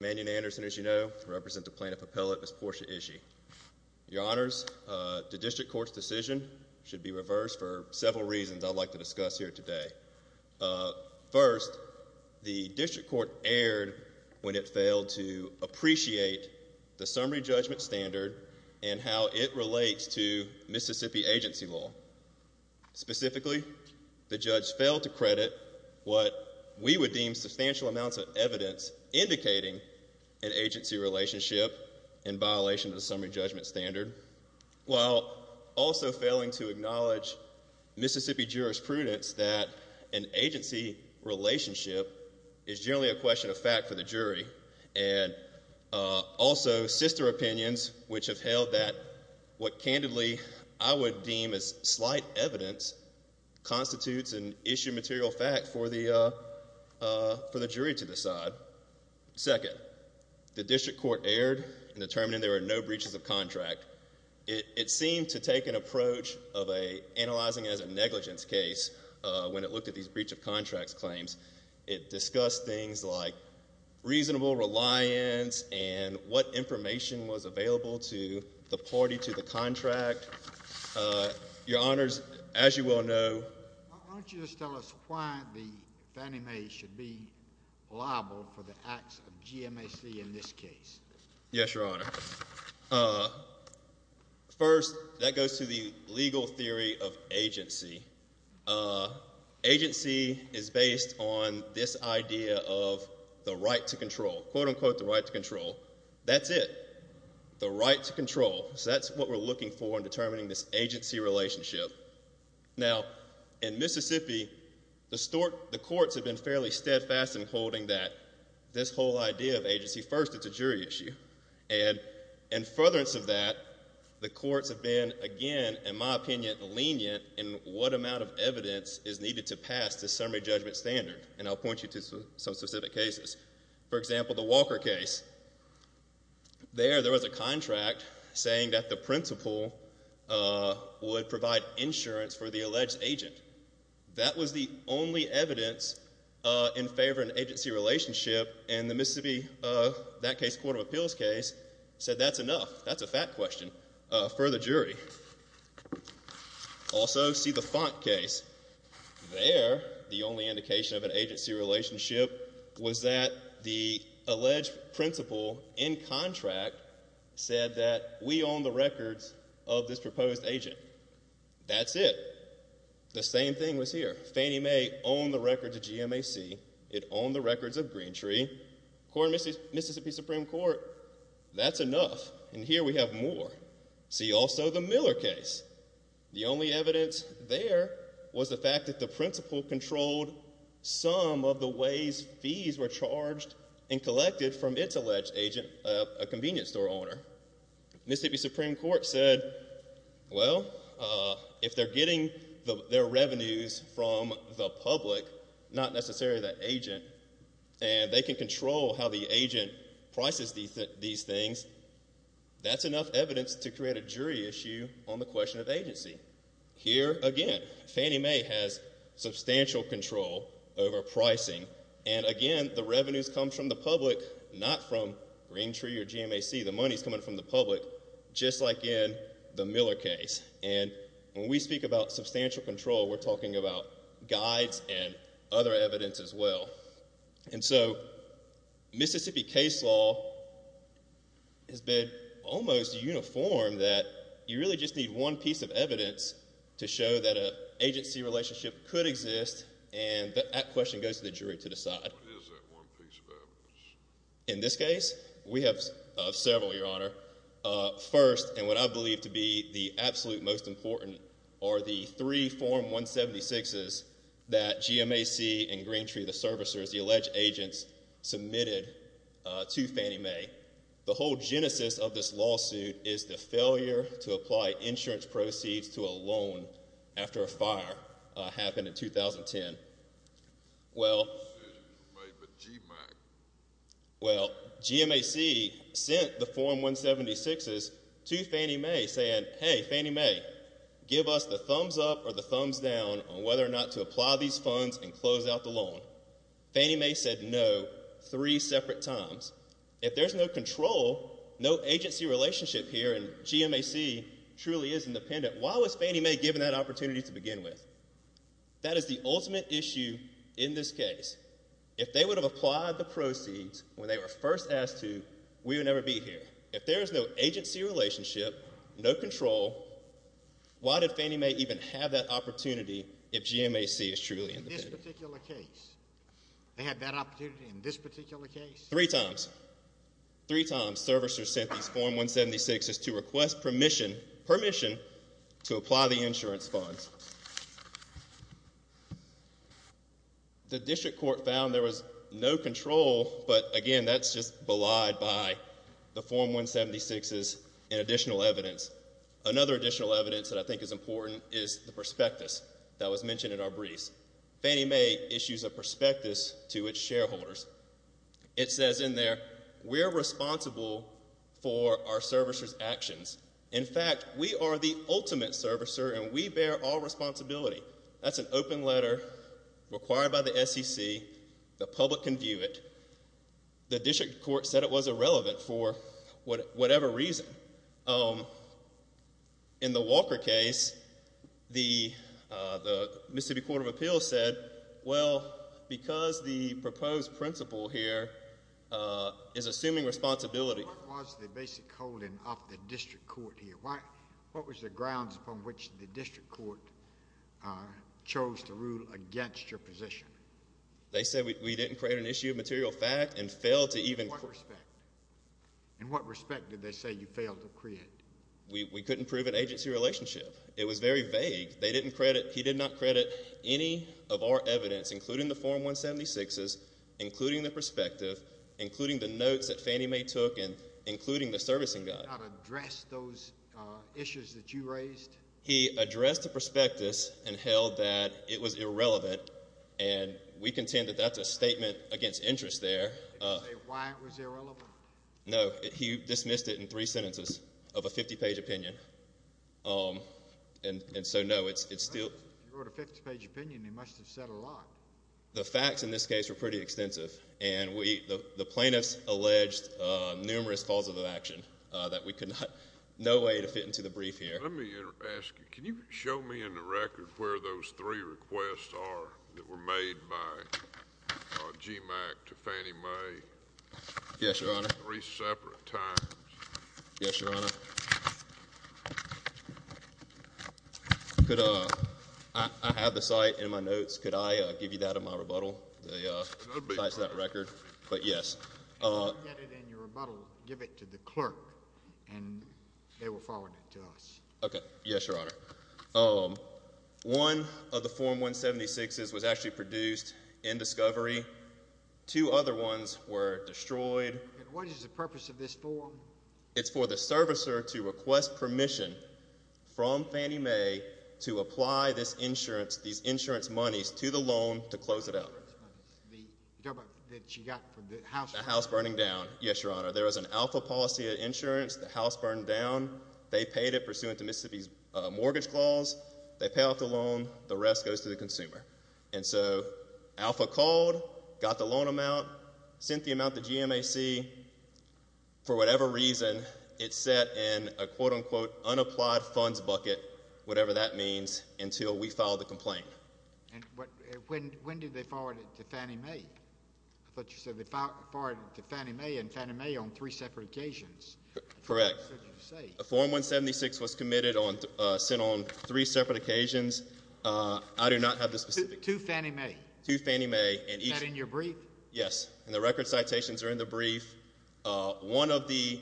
Manion Anderson, as you know, represent the plaintiff appellate Miss Portia Ishee. Your honors, the district court's decision should be reversed for several reasons I'd like to discuss here today. First, the district court erred when it failed to appreciate the summary judgment standard and how it relates to Mississippi agency law. Specifically, the judge failed to credit what we would deem substantial amounts of evidence indicating an agency relationship in violation of the summary judgment standard, while also failing to acknowledge Mississippi jurisprudence that an agency relationship is generally a question of fact for the jury. And also, sister opinions which have held that what candidly I would deem as slight evidence constitutes an issue material fact for the Second, the district court erred in determining there were no breaches of contract. It seemed to take an approach of analyzing it as a negligence case when it looked at these breach of contracts claims. It discussed things like reasonable reliance and what information was available to the party to the contract. Your honors, as you well know, why don't you just tell us why the Fannie Mae should be liable for the acts of GMAC in this case? Yes, your honor. First, that goes to the legal theory of agency. Agency is based on this idea of the right to control, quote unquote the right to control. That's it, the right to control. So that's what we're looking for in determining this agency relationship. Now, in Mississippi, the courts have been fairly steadfast in holding that, this whole idea of agency. First, it's a jury issue. And in furtherance of that, the courts have been, again, in my opinion, lenient in what amount of evidence is needed to pass the summary judgment standard. And I'll point you to some cases. For example, the Walker case. There, there was a contract saying that the principal would provide insurance for the alleged agent. That was the only evidence in favor of an agency relationship. And the Mississippi, that case, Court of Appeals case, said that's enough. That's a fact question for the jury. Also, see the Font case. There, the only indication of an agency relationship was that the alleged principal in contract said that we own the records of this proposed agent. That's it. The same thing was here. Fannie Mae owned the records of GMAC. It owned the records of Green Tree. Court of Mississippi Supreme Court, that's enough. And here we have more. See also the Miller case. The only evidence there was the fact that the principal controlled some of the ways fees were charged and collected from its alleged agent, a convenience store owner. Mississippi Supreme Court said, well, if they're getting their revenues from the public, not necessarily the agent, and they can control how the agent prices these things, that's enough control over pricing. And again, the revenues come from the public, not from Green Tree or GMAC. The money's coming from the public, just like in the Miller case. And when we speak about substantial control, we're talking about guides and other evidence as well. And so Mississippi case law has been almost uniform that you really just need one piece of evidence to show that an and that question goes to the jury to decide. In this case, we have several, Your Honor. First, and what I believe to be the absolute most important, are the three Form 176s that GMAC and Green Tree, the servicers, the alleged agents submitted to Fannie Mae. The whole genesis of this lawsuit is the failure to apply insurance in 2010. Well, GMAC sent the Form 176s to Fannie Mae saying, hey, Fannie Mae, give us the thumbs up or the thumbs down on whether or not to apply these funds and close out the loan. Fannie Mae said no three separate times. If there's no control, no agency relationship here and GMAC truly is independent, why was Fannie Mae given that opportunity to begin with? That is the ultimate issue in this case. If they would have applied the proceeds when they were first asked to, we would never be here. If there is no agency relationship, no control, why did Fannie Mae even have that opportunity if GMAC is truly independent? In this particular case, they had that opportunity in this particular case? Three times. Three times servicers sent these Form 176s to request permission to apply the insurance funds. The district court found there was no control, but again, that's just belied by the Form 176s and additional evidence. Another additional evidence that I think is important is the prospectus that was mentioned in our briefs. Fannie Mae issues a prospectus to its shareholders. It says in there, we're responsible for our servicers' actions. In fact, we are the ultimate servicer and we bear all responsibility. That's an open letter required by the SEC. The public can view it. The district court said it was irrelevant for whatever reason. In the Walker case, the Mississippi Court of Appeals said, well, because the proposed principle here is assuming responsibility. What was the basic holding of the district court here? What was the grounds upon which the district court chose to rule against your position? They said we didn't create an issue of material fact and failed to even... In what respect did they say you failed to create? We couldn't prove an agency relationship. It was very vague. They didn't credit... He did not credit any of our evidence, including the Form 176s, including the perspective, including the notes that Fannie Mae took, and including the servicing guide. He did not address those issues that you raised? He addressed the prospectus and held that it was irrelevant, and we contend that that's a statement against interest there. Did he say why it was irrelevant? No. He dismissed it in three sentences of a 50-page opinion, and so, no, it's still... He wrote a 50-page opinion. He must have said a lot. The facts in this case were pretty extensive, and the plaintiffs alleged numerous causes of action that we could not... No way to fit into the brief here. Let me ask you, can you show me in the record where those three requests are that were made by G. Mack to Fannie Mae? Yes, Your Honor. In three separate times? Yes, Your Honor. I have the site in my notes. Could I give you that in my rebuttal? The site's in that record, but yes. If you get it in your rebuttal, give it to the clerk, and they will forward it to us. Okay. Yes, Your Honor. One of the Form 176s was actually produced in discovery. Two other ones were destroyed. And what is the purpose of this form? It's for the servicer to request permission from Fannie Mae to apply this insurance, these insurance monies, to the loan to close it out. The government that she got from the house... The house burning down. Yes, Your Honor. There was an alpha policy of insurance. The house burned down. They paid it pursuant to Mississippi's mortgage clause. They pay off the loan. The rest goes to the consumer. And so alpha called, got the loan amount, sent the amount to G. M. A. C. For whatever reason, it sat in a quote-unquote unapplied funds bucket, whatever that means, until we filed the complaint. And when did they forward it to Fannie Mae? I thought you said they forwarded it to Fannie Mae on three separate occasions. Correct. Form 176 was committed on, sent on three separate occasions. I do not have the specifics. To Fannie Mae? To Fannie Mae. Is that in your brief? Yes. And the record citations are in the brief. One of the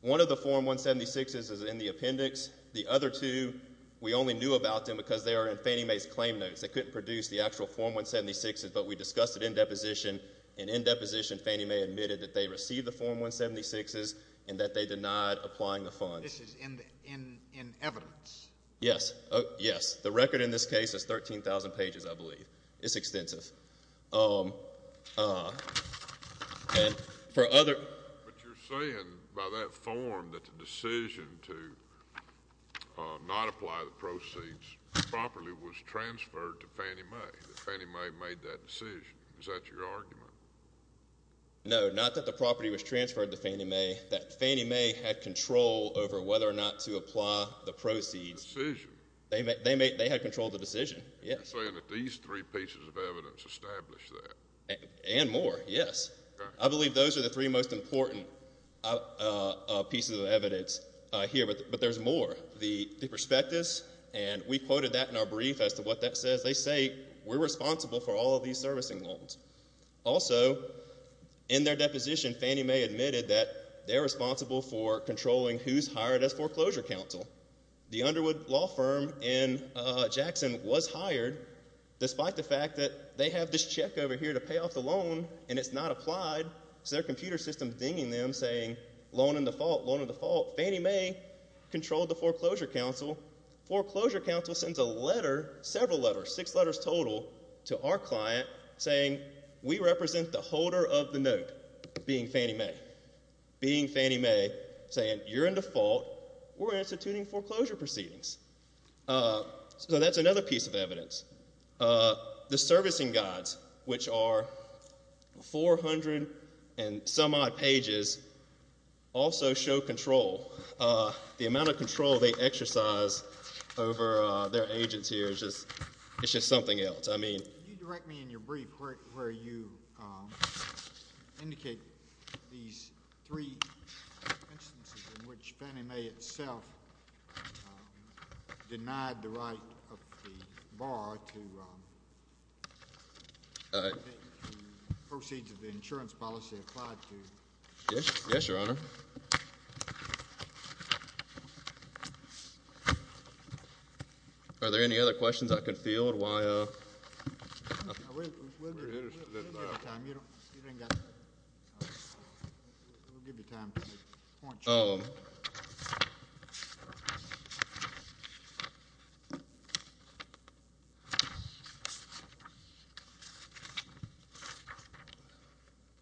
Form 176s is in the appendix. The other two, we only knew about them because they are in Fannie Mae's claim notes. They couldn't produce the actual Form 176s, but we discussed it in deposition. And in deposition, Fannie Mae admitted that they received the Form 176s and that they denied applying the funds. This is in evidence. Yes. Yes. The record in this case is 13,000 pages, I believe. It's extensive. You're saying by that form that the decision to not apply the proceeds properly was transferred to Fannie Mae? That Fannie Mae made that decision? Is that your argument? No, not that the property was transferred to Fannie Mae. That Fannie Mae had control over whether or not to apply the proceeds. Decision? They had control of the decision, yes. You're saying that these three pieces of evidence established that? And more, yes. I believe those are the three most important pieces of evidence here, but there's more. The prospectus, and we quoted that in our brief as to what that says. They say we're responsible for all of these servicing loans. Also, in their deposition, Fannie Mae admitted that they're responsible for controlling who's hired as foreclosure counsel. The Underwood Law Firm in Jackson was hired despite the fact that they have this check over here to pay off the loan and it's not applied, so their computer system is dinging them saying, loan in default, Fannie Mae controlled the foreclosure counsel. Foreclosure counsel sends a letter, several letters, six letters total, to our client saying, we represent the holder of the note, being Fannie Mae. Being Fannie Mae saying, you're in default, we're instituting foreclosure proceedings. So that's another piece of evidence. The servicing guides, which are 400 and some odd pages, also show control. The amount of control they exercise over their agents here is just something else. You direct me in your brief where you indicate these three instances in which Fannie Mae itself denied the right of the bar to take the proceeds of the insurance policy applied to her. Yes, Your Honor. Are there any other questions I can field while I'm here?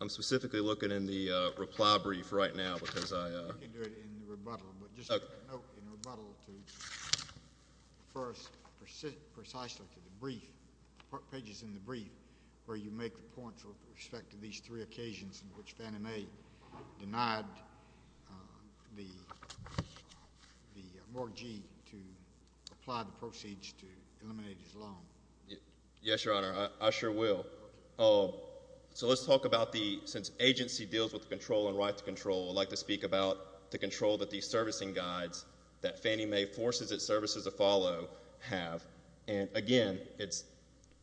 I'm specifically looking in the reply brief right now because I can do it in rebuttal, but just a note in rebuttal to first, precisely to the brief, pages in the brief where you make the point with respect to these three occasions in which Fannie Mae denied the mortgagee to apply the proceeds to eliminate his loan. Yes, Your Honor, I sure will. So let's talk about the, since agency deals with the control and right to control, I'd like to speak about the control that these servicing guides that Fannie Mae forces its servicers to follow have. And again, it's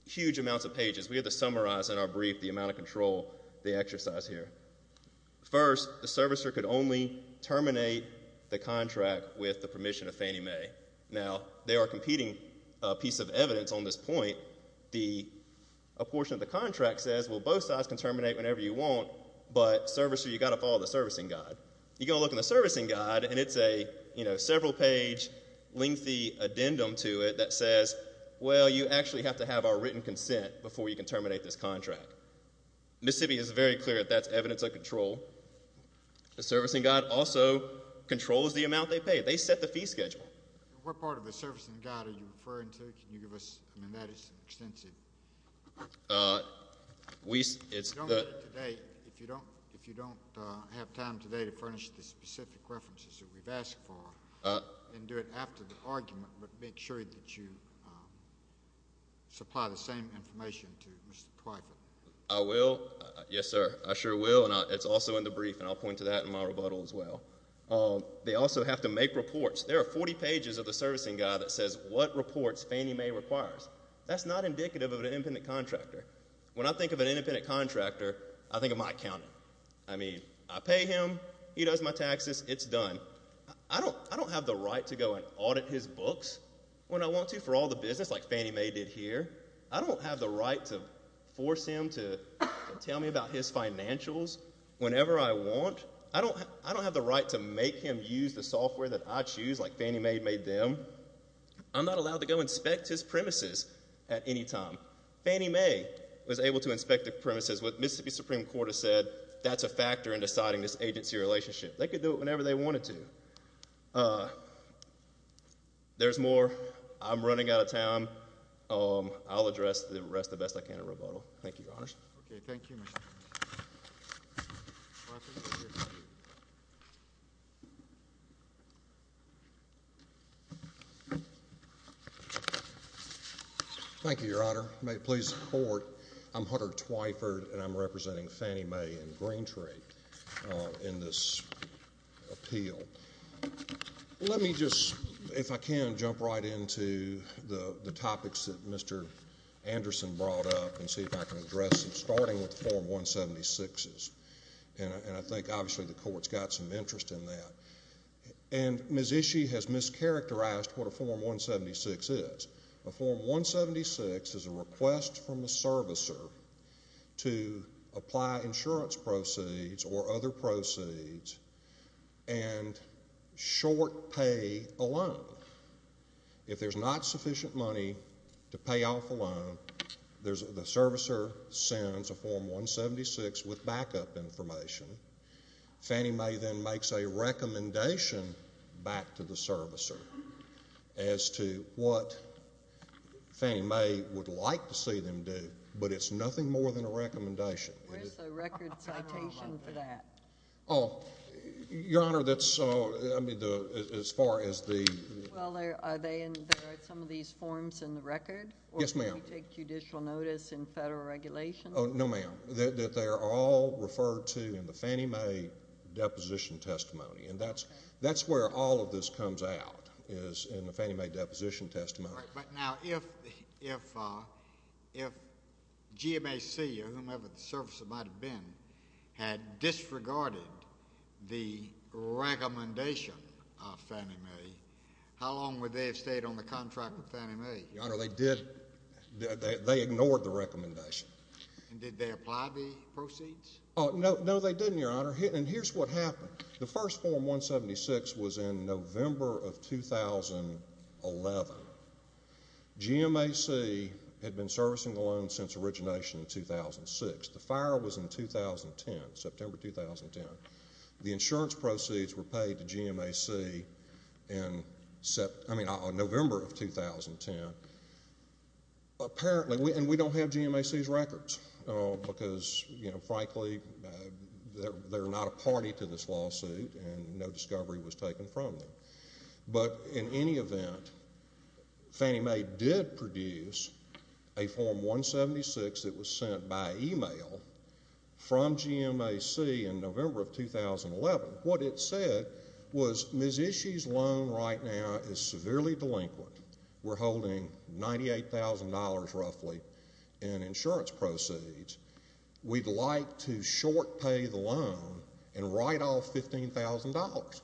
huge amounts of pages. We have to summarize in our brief the amount of control they exercise here. First, the servicer could only terminate the contract with the permission of Fannie Mae. Now, they are competing a piece of evidence on this point. A portion of the contract says, well, both sides can terminate whenever you want, but servicer, you've got to follow the servicing guide. You're going to look in the servicing guide and it's a, you know, several page lengthy addendum to it that says, well, you actually have to have our written consent before you can terminate this contract. Mississippi is very clear that that's evidence of control. The servicing guide also controls the amount they pay. They set the fee schedule. What part of the servicing guide are you referring to? Can you give us, I mean, that is extensive. If you don't have time today to furnish the specific references that we've asked for, then do it after the argument, but make sure that you supply the same information to Mr. Twyford. I will. Yes, sir. I sure will. And it's also in the brief, and I'll point to that in my rebuttal as well. They also have to make reports. There are 40 pages of the servicing guide that says what reports Fannie Mae requires. That's not indicative of an independent contractor. When I think of an independent contractor, I think of Mike Cownie. I mean, I pay him, he does my taxes, it's done. I don't have the right to go and audit his books when I want to for all the business, like Fannie Mae did here. I don't have the right to force him to tell me about his financials whenever I want. I don't have the right to make him use the software that I choose, like Fannie Mae made them. I'm not allowed to go inspect his premises at any time. Fannie Mae was able to inspect the premises. What Mississippi Supreme Court has said, that's a factor in deciding this agency relationship. They could do it whenever they wanted to. There's more. I'm running out of time. I'll address the rest the best I can in this case. Thank you, Your Honor. May it please the Court, I'm Hunter Twyford, and I'm representing Fannie Mae and Green Tree in this appeal. Let me just, if I can, jump right into the topics that Mr. Anderson brought up and see if I can address them, starting with Form 176s. I think, obviously, the Court's got some interest in that. Mississippi has mischaracterized what a Form 176 is. A Form 176 is a request from a servicer to apply insurance proceeds or other proceeds and short pay a loan. If there's not sufficient money to pay off a loan, the servicer sends a Form 176 with backup information. Fannie Mae then makes a recommendation back to the servicer as to what Fannie Mae would like to see them do, but it's nothing more than a recommendation. Where's the record citation for that? Oh, Your Honor, that's, I mean, as far as the... Well, are they in, there are some of these forms in the record? Yes, ma'am. Or can we take judicial notice in federal regulation? No, ma'am. They are all referred to in the Fannie Mae deposition testimony, and that's where all of this comes out, is in the Fannie Mae deposition testimony. Right, but now, if GMAC or whomever the servicer might have been had disregarded the recommendation of Fannie Mae, how long would they have stayed on the contract with Fannie Mae? Your Honor, they did, they ignored the recommendation. And did they apply the proceeds? Oh, no, they didn't, Your Honor, and here's what happened. The first Form 176 was in November of 2011. GMAC had been servicing the loan since origination in 2006. The fire was in 2010, September 2010. The insurance proceeds were paid to GMAC in, I mean, November of 2010. Apparently, and we don't have GMAC's records, because, you know, frankly, they're not a party to this lawsuit, and no discovery was taken from them. But in any event, Fannie Mae did produce a Form 176 that was sent by email from GMAC in November of 2011. What it said was, Ms. Ishii's loan right now is severely delinquent. We're holding $98,000 roughly in insurance proceeds. We'd like to short pay the loan and write off $15,000,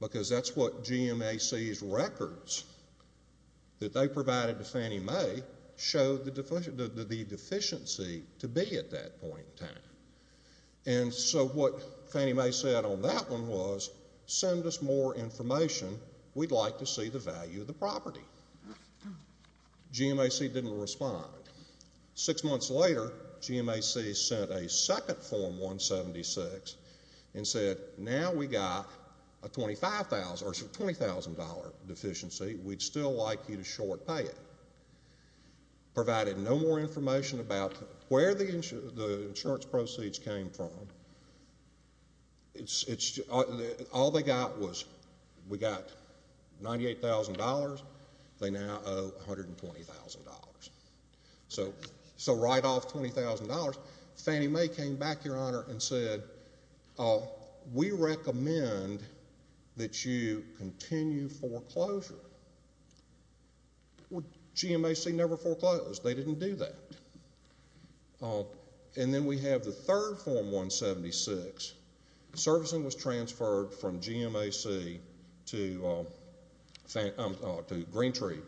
because that's what GMAC's records that they provided to Fannie Mae showed the deficiency to be at that point in time. And so what Fannie Mae said on that one was, send us more information. We'd like to see the value of the property. GMAC didn't respond. Six months later, GMAC sent a second Form 176 and said, now we got a $20,000 deficiency. We'd still like you to short pay it. Provided no more information about where the insurance proceeds came from. All they got was, we got $98,000. They now owe $120,000. So write off $20,000. Fannie Mae came back, Your Honor, and said, we recommend that you continue foreclosure. GMAC never foreclosed. They didn't do that. And then we have the third Form 176. Servicing was transferred from GMAC to Green Tree,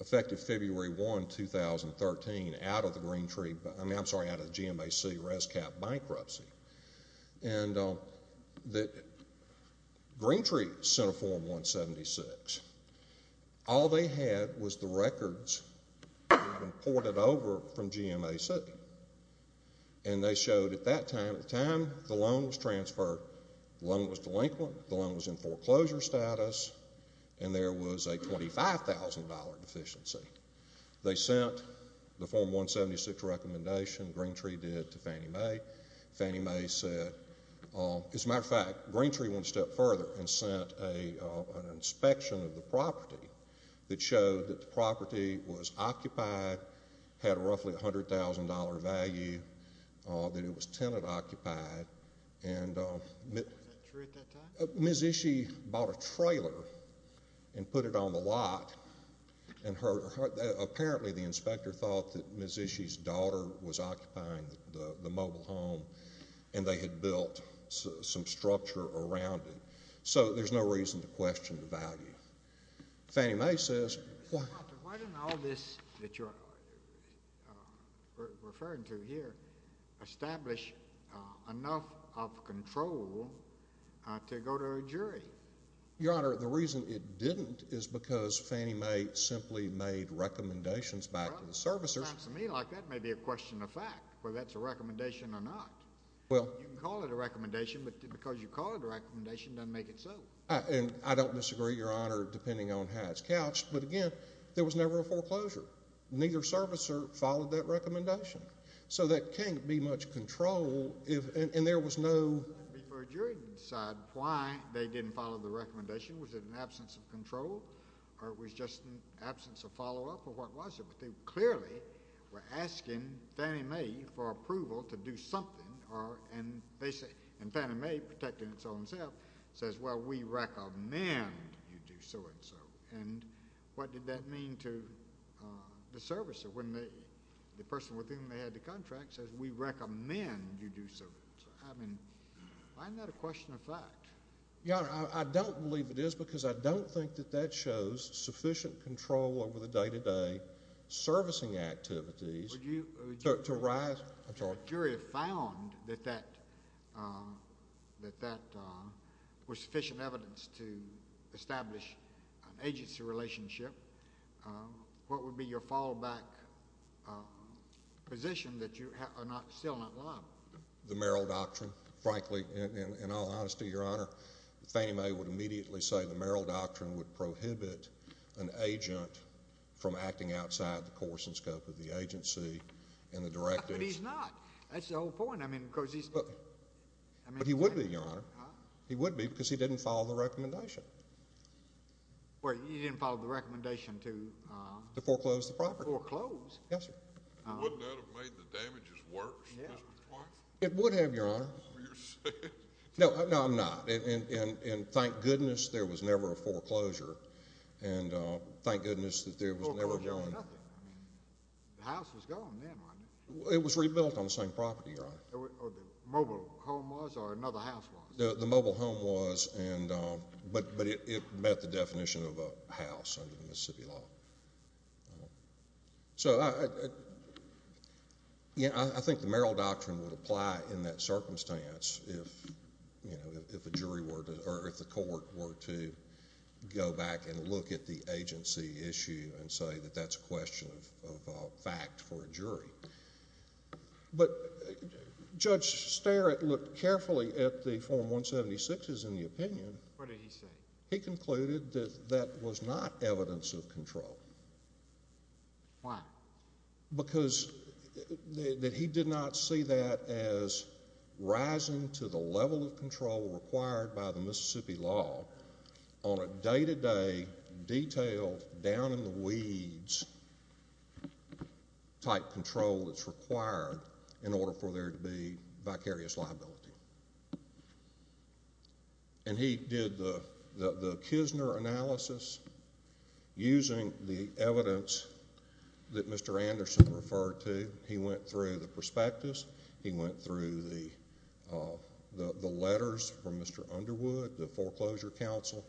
effective February 1, 2013, out of the GMAC RESCAP bankruptcy. And Green Tree sent a Form 176. All they had was the records they had imported over from GMAC. And they showed at that time, at the time the loan was transferred, the loan was delinquent, the loan was in foreclosure status, and there was a $25,000 deficiency. They sent the Form 176 recommendation, Green Tree did, to Fannie Mae. Fannie Mae said, as a matter of fact, Green Tree went a step further and sent an inspection of the property that showed that the property was occupied, had roughly a $100,000 value, that it was tenant occupied. And Ms. Ishii bought a trailer and put it on the lot and apparently the inspector thought that Ms. Ishii's daughter was occupying the mobile home and they had built some structure around it. So there's no reason to question the value. Fannie Mae says— Why didn't all this that you're referring to here establish enough of control to go to a jury? Your Honor, the reason it didn't is because Fannie Mae simply made recommendations back to the servicers— It sounds to me like that may be a question of fact, whether that's a recommendation or not. Well— You can call it a recommendation, but because you call it a recommendation, it doesn't make it so. And I don't disagree, Your Honor, depending on how it's couched. But again, there was never a foreclosure. Neither servicer followed that recommendation. So there can't be much control if—and there was no— Before a jury decided why they didn't follow the recommendation, was it an absence of control or it was just an absence of follow-up or what was it? But they clearly were asking Fannie Mae for approval to do something or—and they say—and Fannie Mae, protecting itself, says, well, we recommend you do so and so. And what did that mean to the servicer when the person with whom they had the contract says, we recommend you do so and so? I mean, why isn't that a question of fact? Your Honor, I don't believe it is because I don't think that that shows sufficient control over the day-to-day servicing activities— —to arise—I'm sorry. If a jury found that that was sufficient evidence to establish an agency relationship, what would be your fallback position that you are still not liable? The Merrill Doctrine, frankly, in all honesty, Your Honor, Fannie Mae would immediately say the Merrill Doctrine would prohibit an agent from acting outside the course and scope of the agency and the directives— But he's not. That's the whole point. I mean, because he's— But he would be, Your Honor. He would be because he didn't follow the recommendation. Well, he didn't follow the recommendation to— To foreclose the property. —foreclose. Yes, sir. Wouldn't that have made the damages worse, Mr. Twyford? It would have, Your Honor. Is that what you're saying? No, no, I'm not. And thank goodness there was never a foreclosure. And thank goodness that there was never— Foreclosure was nothing. I mean, the house was gone then, wasn't it? It was rebuilt on the same property, Your Honor. Or the mobile home was, or another house was? The mobile home was, but it met the definition of a house under the Mississippi law. Well, so I— Yeah, I think the Merrill Doctrine would apply in that circumstance if, you know, if a jury were to—or if the court were to go back and look at the agency issue and say that that's a question of fact for a jury. But Judge Starrett looked carefully at the Form 176s in the opinion. What did he say? He concluded that that was not evidence of control. Why? Because that he did not see that as rising to the level of control required by the Mississippi law on a day-to-day, detailed, down-in-the-weeds type control that's required in order for there to be vicarious liability. And he did the Kisner analysis using the evidence that Mr. Anderson referred to. He went through the perspectives. He went through the letters from Mr. Underwood, the foreclosure counsel.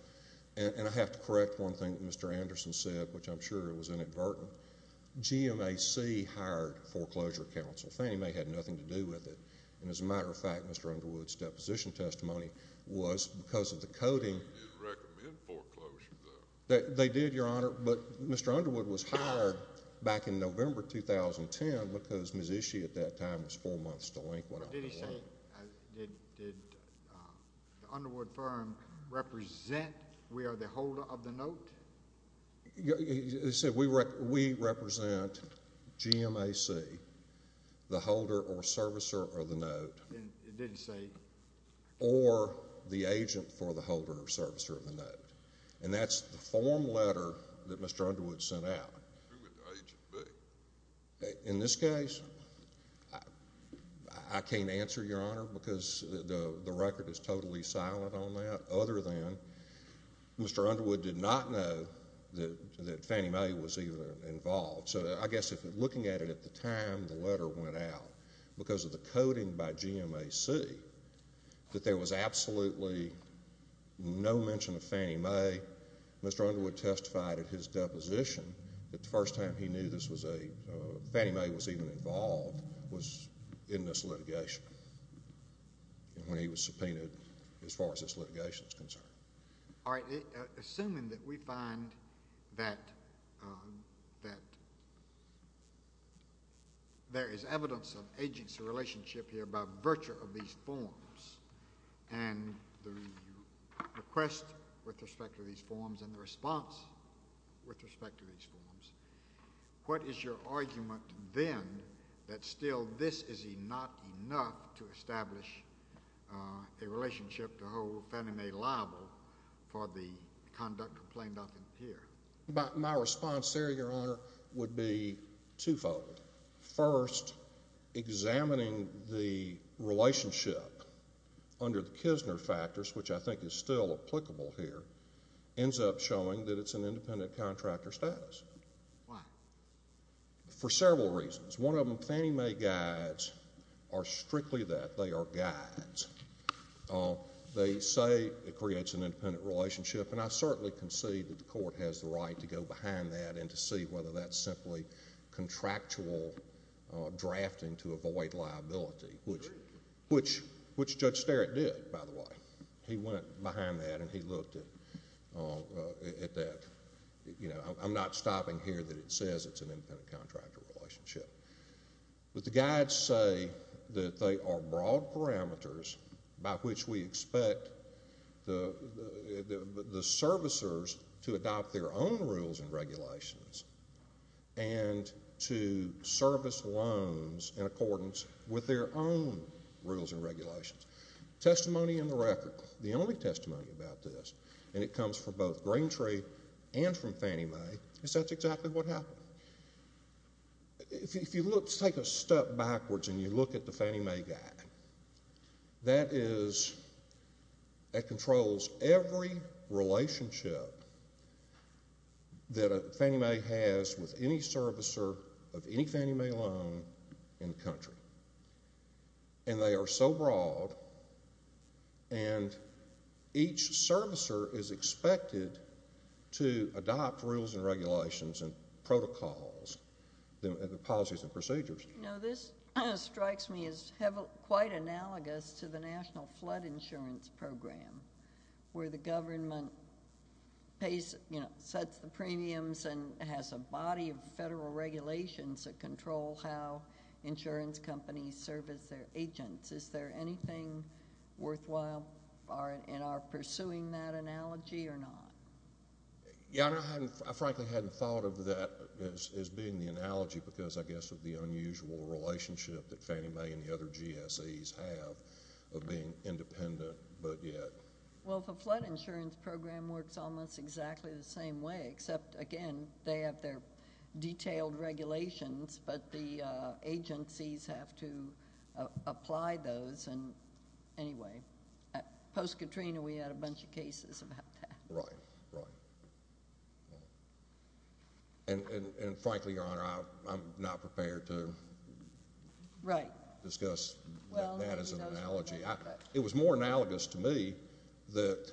And I have to correct one thing that Mr. Anderson said, which I'm sure it was inadvertent. GMAC hired foreclosure counsel. Fannie Mae had nothing to do with it. And as a matter of fact, Mr. Underwood's deposition testimony was because of the coding. They didn't recommend foreclosure, though. They did, Your Honor. But Mr. Underwood was hired back in November 2010 because Mississippi at that time was four months delinquent. But did he say, did the Underwood firm represent, we are the holder of the note? He said, we represent GMAC, the holder or servicer of the note. Or the agent for the holder or servicer of the note. And that's the form letter that Mr. Underwood sent out. In this case, I can't answer, Your Honor, because the record is totally silent on that, other than Mr. Underwood did not know that Fannie Mae was even involved. So I guess if, looking at it at the time the letter went out, because of the coding by GMAC, that there was absolutely no mention of Fannie Mae, Mr. Underwood testified at his deposition that the first time he knew this was a, Fannie Mae was even involved was in this litigation. And when he was subpoenaed, as far as this litigation is concerned. All right. Assuming that we find that there is evidence of agency relationship here by virtue of these forms and the request with respect to these forms and the response with respect to these forms, what is your argument then that still this is not enough to establish a relationship to hold Fannie Mae liable for the conduct complained of here? My response there, Your Honor, would be twofold. First, examining the relationship under the Kisner factors, which I think is still applicable here, ends up showing that it's an independent contractor status. Why? For several reasons. One of them, Fannie Mae guides are strictly that. They are guides. They say it creates an independent relationship. And I certainly concede that the court has the right to go behind that and to see whether that's simply contractual drafting to avoid liability, which Judge Sterritt did, by the way. He went behind that and he looked at that. I'm not stopping here that it says it's an independent contractor relationship. But the guides say that they are broad parameters by which we expect the servicers to adopt their own rules and regulations and to service loans in accordance with their own rules and regulations. Testimony in the record. The only testimony about this, and it comes from both Green Tree and from Fannie Mae, is that's exactly what happened. If you take a step backwards and you look at the Fannie Mae guide, that controls every relationship that Fannie Mae has with any servicer of any Fannie Mae loan in the country. And they are so broad and each servicer is expected to adopt rules and regulations and protocols and policies and procedures. You know, this strikes me as quite analogous to the National Flood Insurance Program, where the government pays, you know, sets the premiums and has a body of federal regulations that control how insurance companies service their agents. Is there anything worthwhile in our pursuing that analogy or not? Yeah, I frankly hadn't thought of that as being the analogy because, I guess, of the unusual relationship that Fannie Mae and the other GSEs have of being independent, but yet. Well, the Flood Insurance Program works almost exactly the same way, except, again, they have their detailed regulations, but the agencies have to apply those. And anyway, post-Katrina, we had a bunch of cases about that. Right, right. And frankly, Your Honor, I'm not prepared to discuss that as an analogy. It was more analogous to me that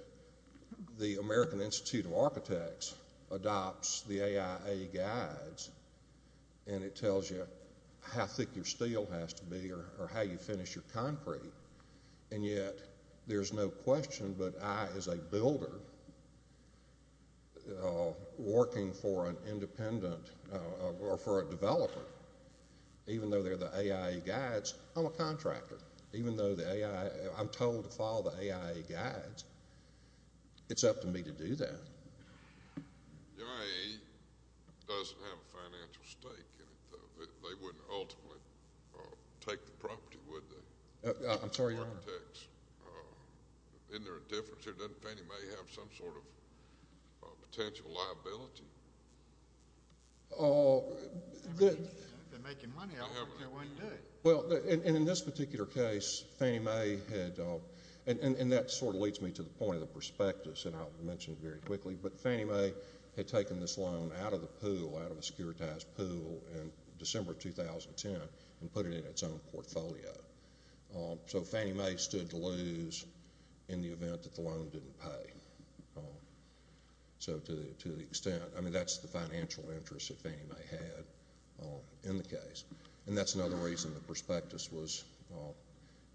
the American Institute of Architects adopts the AIA guides and it tells you how thick your steel has to be or how you finish your concrete. And yet, there's no question but I, as a builder, working for an independent or for a developer, even though they're the AIA guides, I'm a contractor. Even though I'm told to follow the AIA guides, it's up to me to do that. The AIA doesn't have a financial stake in it, though. They wouldn't ultimately take the property, would they? I'm sorry, Your Honor. Architects. Isn't there a difference here? Doesn't Fannie Mae have some sort of potential liability? They're making money. I don't think they wouldn't do it. Well, and in this particular case, Fannie Mae had, and that sort of leads me to the point of the prospectus, and I'll mention it very quickly, but Fannie Mae had taken this loan out of the pool, out of a securitized pool in December 2010 and put it in its own portfolio. So Fannie Mae stood to lose in the event that the loan didn't pay. So to the extent, I mean, that's the financial interest that Fannie Mae had in the case. And that's another reason the prospectus was, well,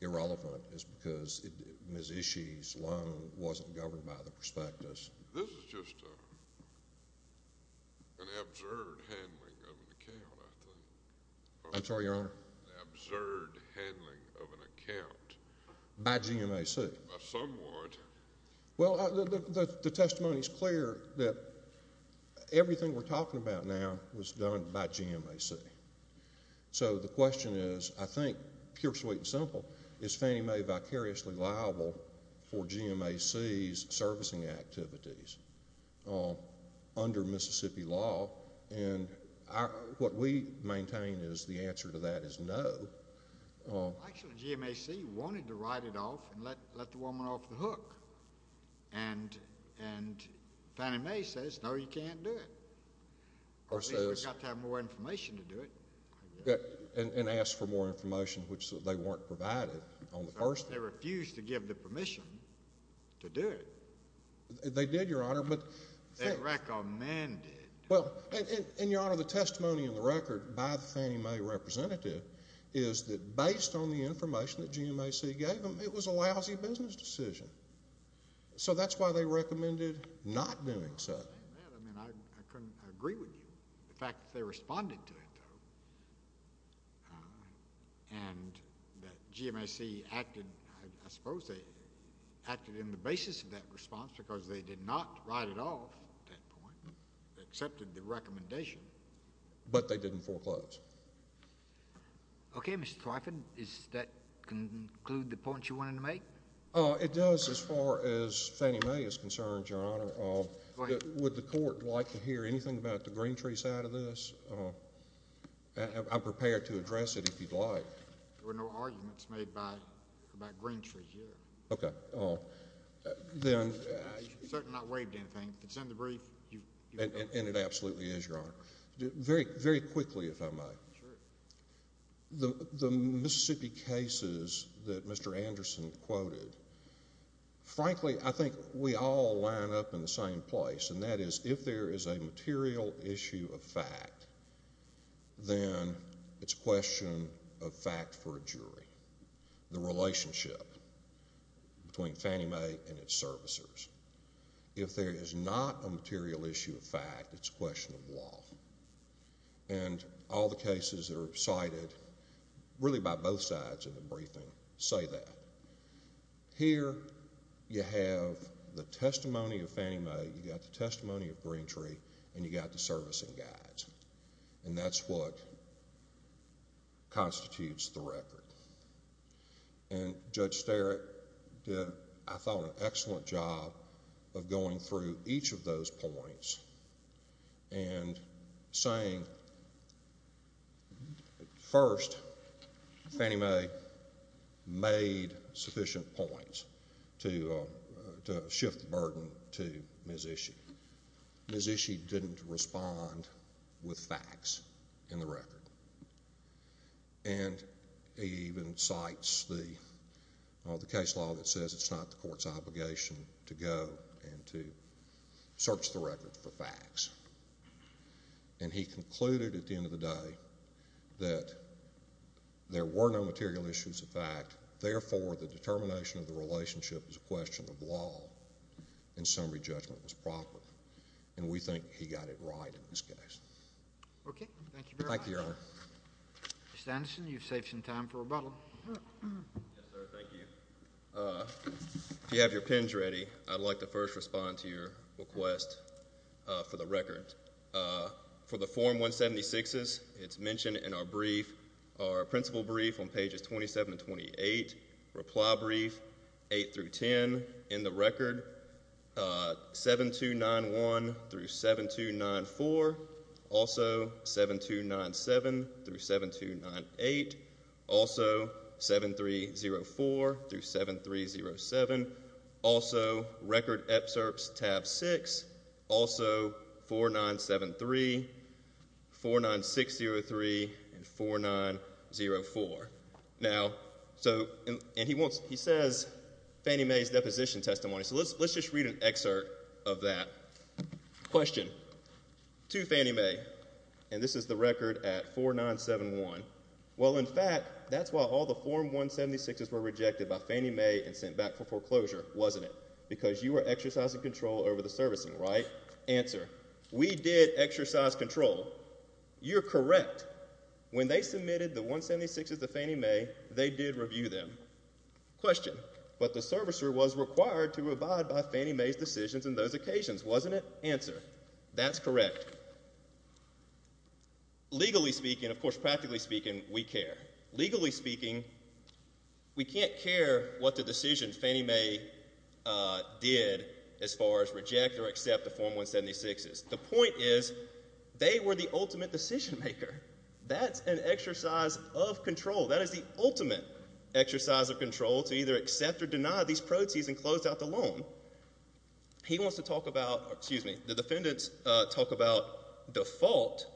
irrelevant, is because Ms. Ishii's loan wasn't governed by the prospectus. This is just an absurd handling of an account, I think. I'm sorry, Your Honor. Absurd handling of an account. By GMAC. Somewhat. Well, the testimony's clear that everything we're talking about now was done by GMAC. So the question is, I think, pure, sweet, and simple, is Fannie Mae vicariously liable for GMAC's servicing activities under Mississippi law? And what we maintain is the answer to that is no. Actually, GMAC wanted to write it off and let the woman off the hook. And Fannie Mae says, no, you can't do it. Or at least we've got to have more information to do it. And ask for more information, which they weren't provided on the first day. They refused to give the permission to do it. They did, Your Honor, but— They recommended. Well, and Your Honor, the testimony in the record by the Fannie Mae representative is that based on the information that GMAC gave them, it was a lousy business decision. So that's why they recommended not doing so. I'm not saying that. I mean, I couldn't agree with you. The fact that they responded to it, though, and that GMAC acted—I suppose they acted in the basis of that response because they did not write it off at that point, accepted the recommendation, but they didn't foreclose. Okay, Mr. Twyford, does that conclude the point you wanted to make? It does as far as Fannie Mae is concerned, Your Honor. Would the Court like to hear anything about the Greentree side of this? I'm prepared to address it if you'd like. There were no arguments made by—about Greentree here. Okay, then— You certainly not waived anything. It's in the brief. And it absolutely is, Your Honor. Very quickly, if I may. Sure. The Mississippi cases that Mr. Anderson quoted, frankly, I think we all line up in the same place, and that is, if there is a material issue of fact, then it's a question of fact for a jury, the relationship between Fannie Mae and its servicers. If there is not a material issue of fact, it's a question of law. And all the cases that are cited, really by both sides in the briefing, say that. Here, you have the testimony of Fannie Mae, you got the testimony of Greentree, and you got the servicing guides. And that's what constitutes the record. And Judge Starrett did, I thought, an excellent job of going through each of those points and saying, well, first, Fannie Mae made sufficient points to shift the burden to Ms. Ishii. Ms. Ishii didn't respond with facts in the record. And he even cites the case law that says it's not the court's obligation to go and to search the record for facts. And he concluded at the end of the day that there were no material issues of fact, therefore, the determination of the relationship is a question of law, and summary judgment was proper. And we think he got it right in this case. Okay, thank you very much. Thank you, Your Honor. Mr. Anderson, you've saved some time for rebuttal. Yes, sir, thank you. If you have your pens ready, I'd like to first respond to your request for the record. For the Form 176s, it's mentioned in our brief, our principal brief on pages 27 and 28. Reply brief, 8 through 10 in the record. 7291 through 7294. Also, 7297 through 7298. Also, 7304 through 7307. Also, record excerpts tab 6. Also, 4973, 49603, and 4904. Now, so, and he wants, he says Fannie Mae's deposition testimony. So let's just read an excerpt of that. Question. To Fannie Mae, and this is the record at 4971. Well, in fact, that's why all the Form 176s were rejected by Fannie Mae and sent back for foreclosure, wasn't it? Because you were exercising control over the servicing, right? Answer. We did exercise control. You're correct. When they submitted the 176s to Fannie Mae, they did review them. Question. But the servicer was required to abide by Fannie Mae's decisions in those occasions, wasn't it? Answer. That's correct. Legally speaking, of course, practically speaking, we care. Legally speaking, we can't care what the decision Fannie Mae did as far as reject or accept the Form 176s. The point is, they were the ultimate decision maker. That's an exercise of control. That is the ultimate exercise of control to either accept or deny these proceeds and close out the loan. He wants to talk about, excuse me, the defendants talk about default.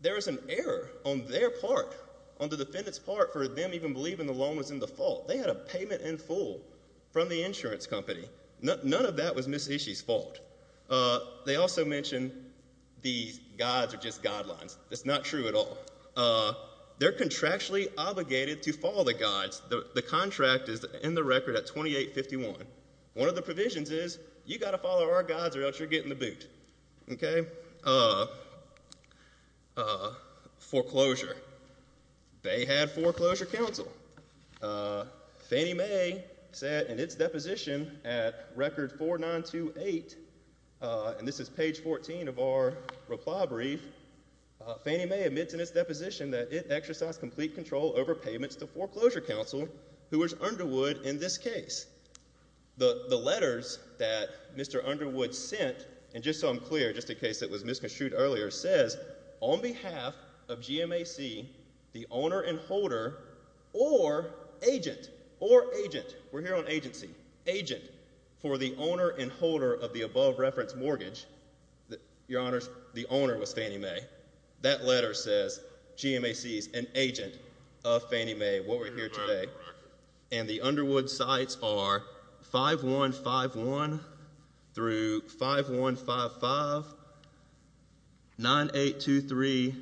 There is an error on their part, on the defendant's part, for them even believing the loan was in default. They had a payment in full from the insurance company. None of that was Ms. Ishii's fault. They also mention the guides are just guidelines. That's not true at all. They're contractually obligated to follow the guides. The contract is in the record at 2851. One of the provisions is, you got to follow our guides or else you're getting the boot. Okay? Uh, foreclosure. They had foreclosure counsel. Fannie Mae said in its deposition at record 4928, and this is page 14 of our reply brief, Fannie Mae admits in its deposition that it exercised complete control over payments to foreclosure counsel, who was Underwood in this case. The letters that Mr. Underwood sent, and just so I'm clear, just in case it was misconstrued earlier, says, on behalf of GMAC, the owner and holder, or agent, or agent, we're here on agency, agent, for the owner and holder of the above reference mortgage, your honors, the owner was Fannie Mae. That letter says GMAC is an agent of Fannie Mae, what we're here today, and the Underwood sites are 5151 through 5155, 9823,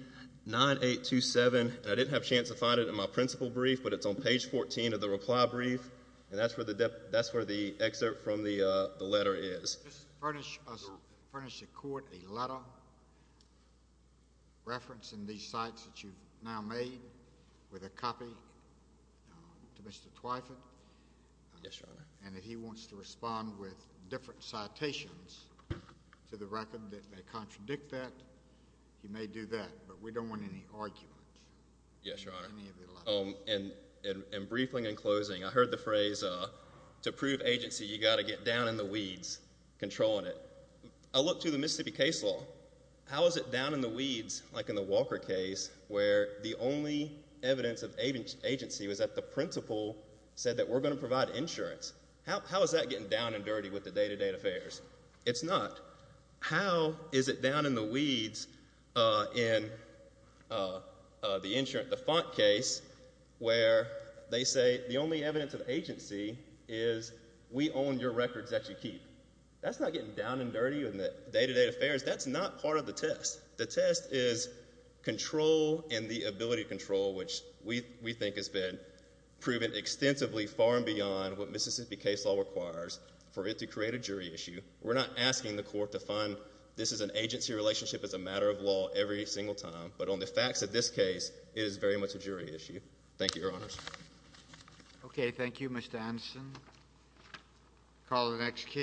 9827, and I didn't have a chance to find it in my principal brief, but it's on page 14 of the reply brief, and that's where the, that's where the excerpt from the, uh, the letter is. Let's furnish us, furnish the court a letter referencing these sites that you've now made with a copy to Mr. Twyford. Yes, your honor. And if he wants to respond with different citations to the record that they contradict that, he may do that, but we don't want any argument. Yes, your honor. And, and, and briefly in closing, I heard the phrase, uh, to prove agency, you gotta get down in the weeds, controlling it. I looked through the Mississippi case law, how is it down in the weeds, like in the Walker case, where the only evidence of agency was that the principal said that we're gonna provide insurance. How, how is that getting down and dirty with the day-to-day affairs? It's not. How is it down in the weeds, uh, in, uh, uh, the insurance, the font case, where they say the only evidence of agency is we own your records that you keep. That's not getting down and dirty in the day-to-day affairs. That's not part of the test. The test is control and the ability to control, which we, we think has been proven extensively far and beyond what Mississippi case law requires for it to create a jury issue. We're not asking the court to find this is an agency relationship as a matter of law every single time, but on the facts of this case, it is very much a jury issue. Thank you, your honors. Okay, thank you, Mr. Anderson. Call the next case.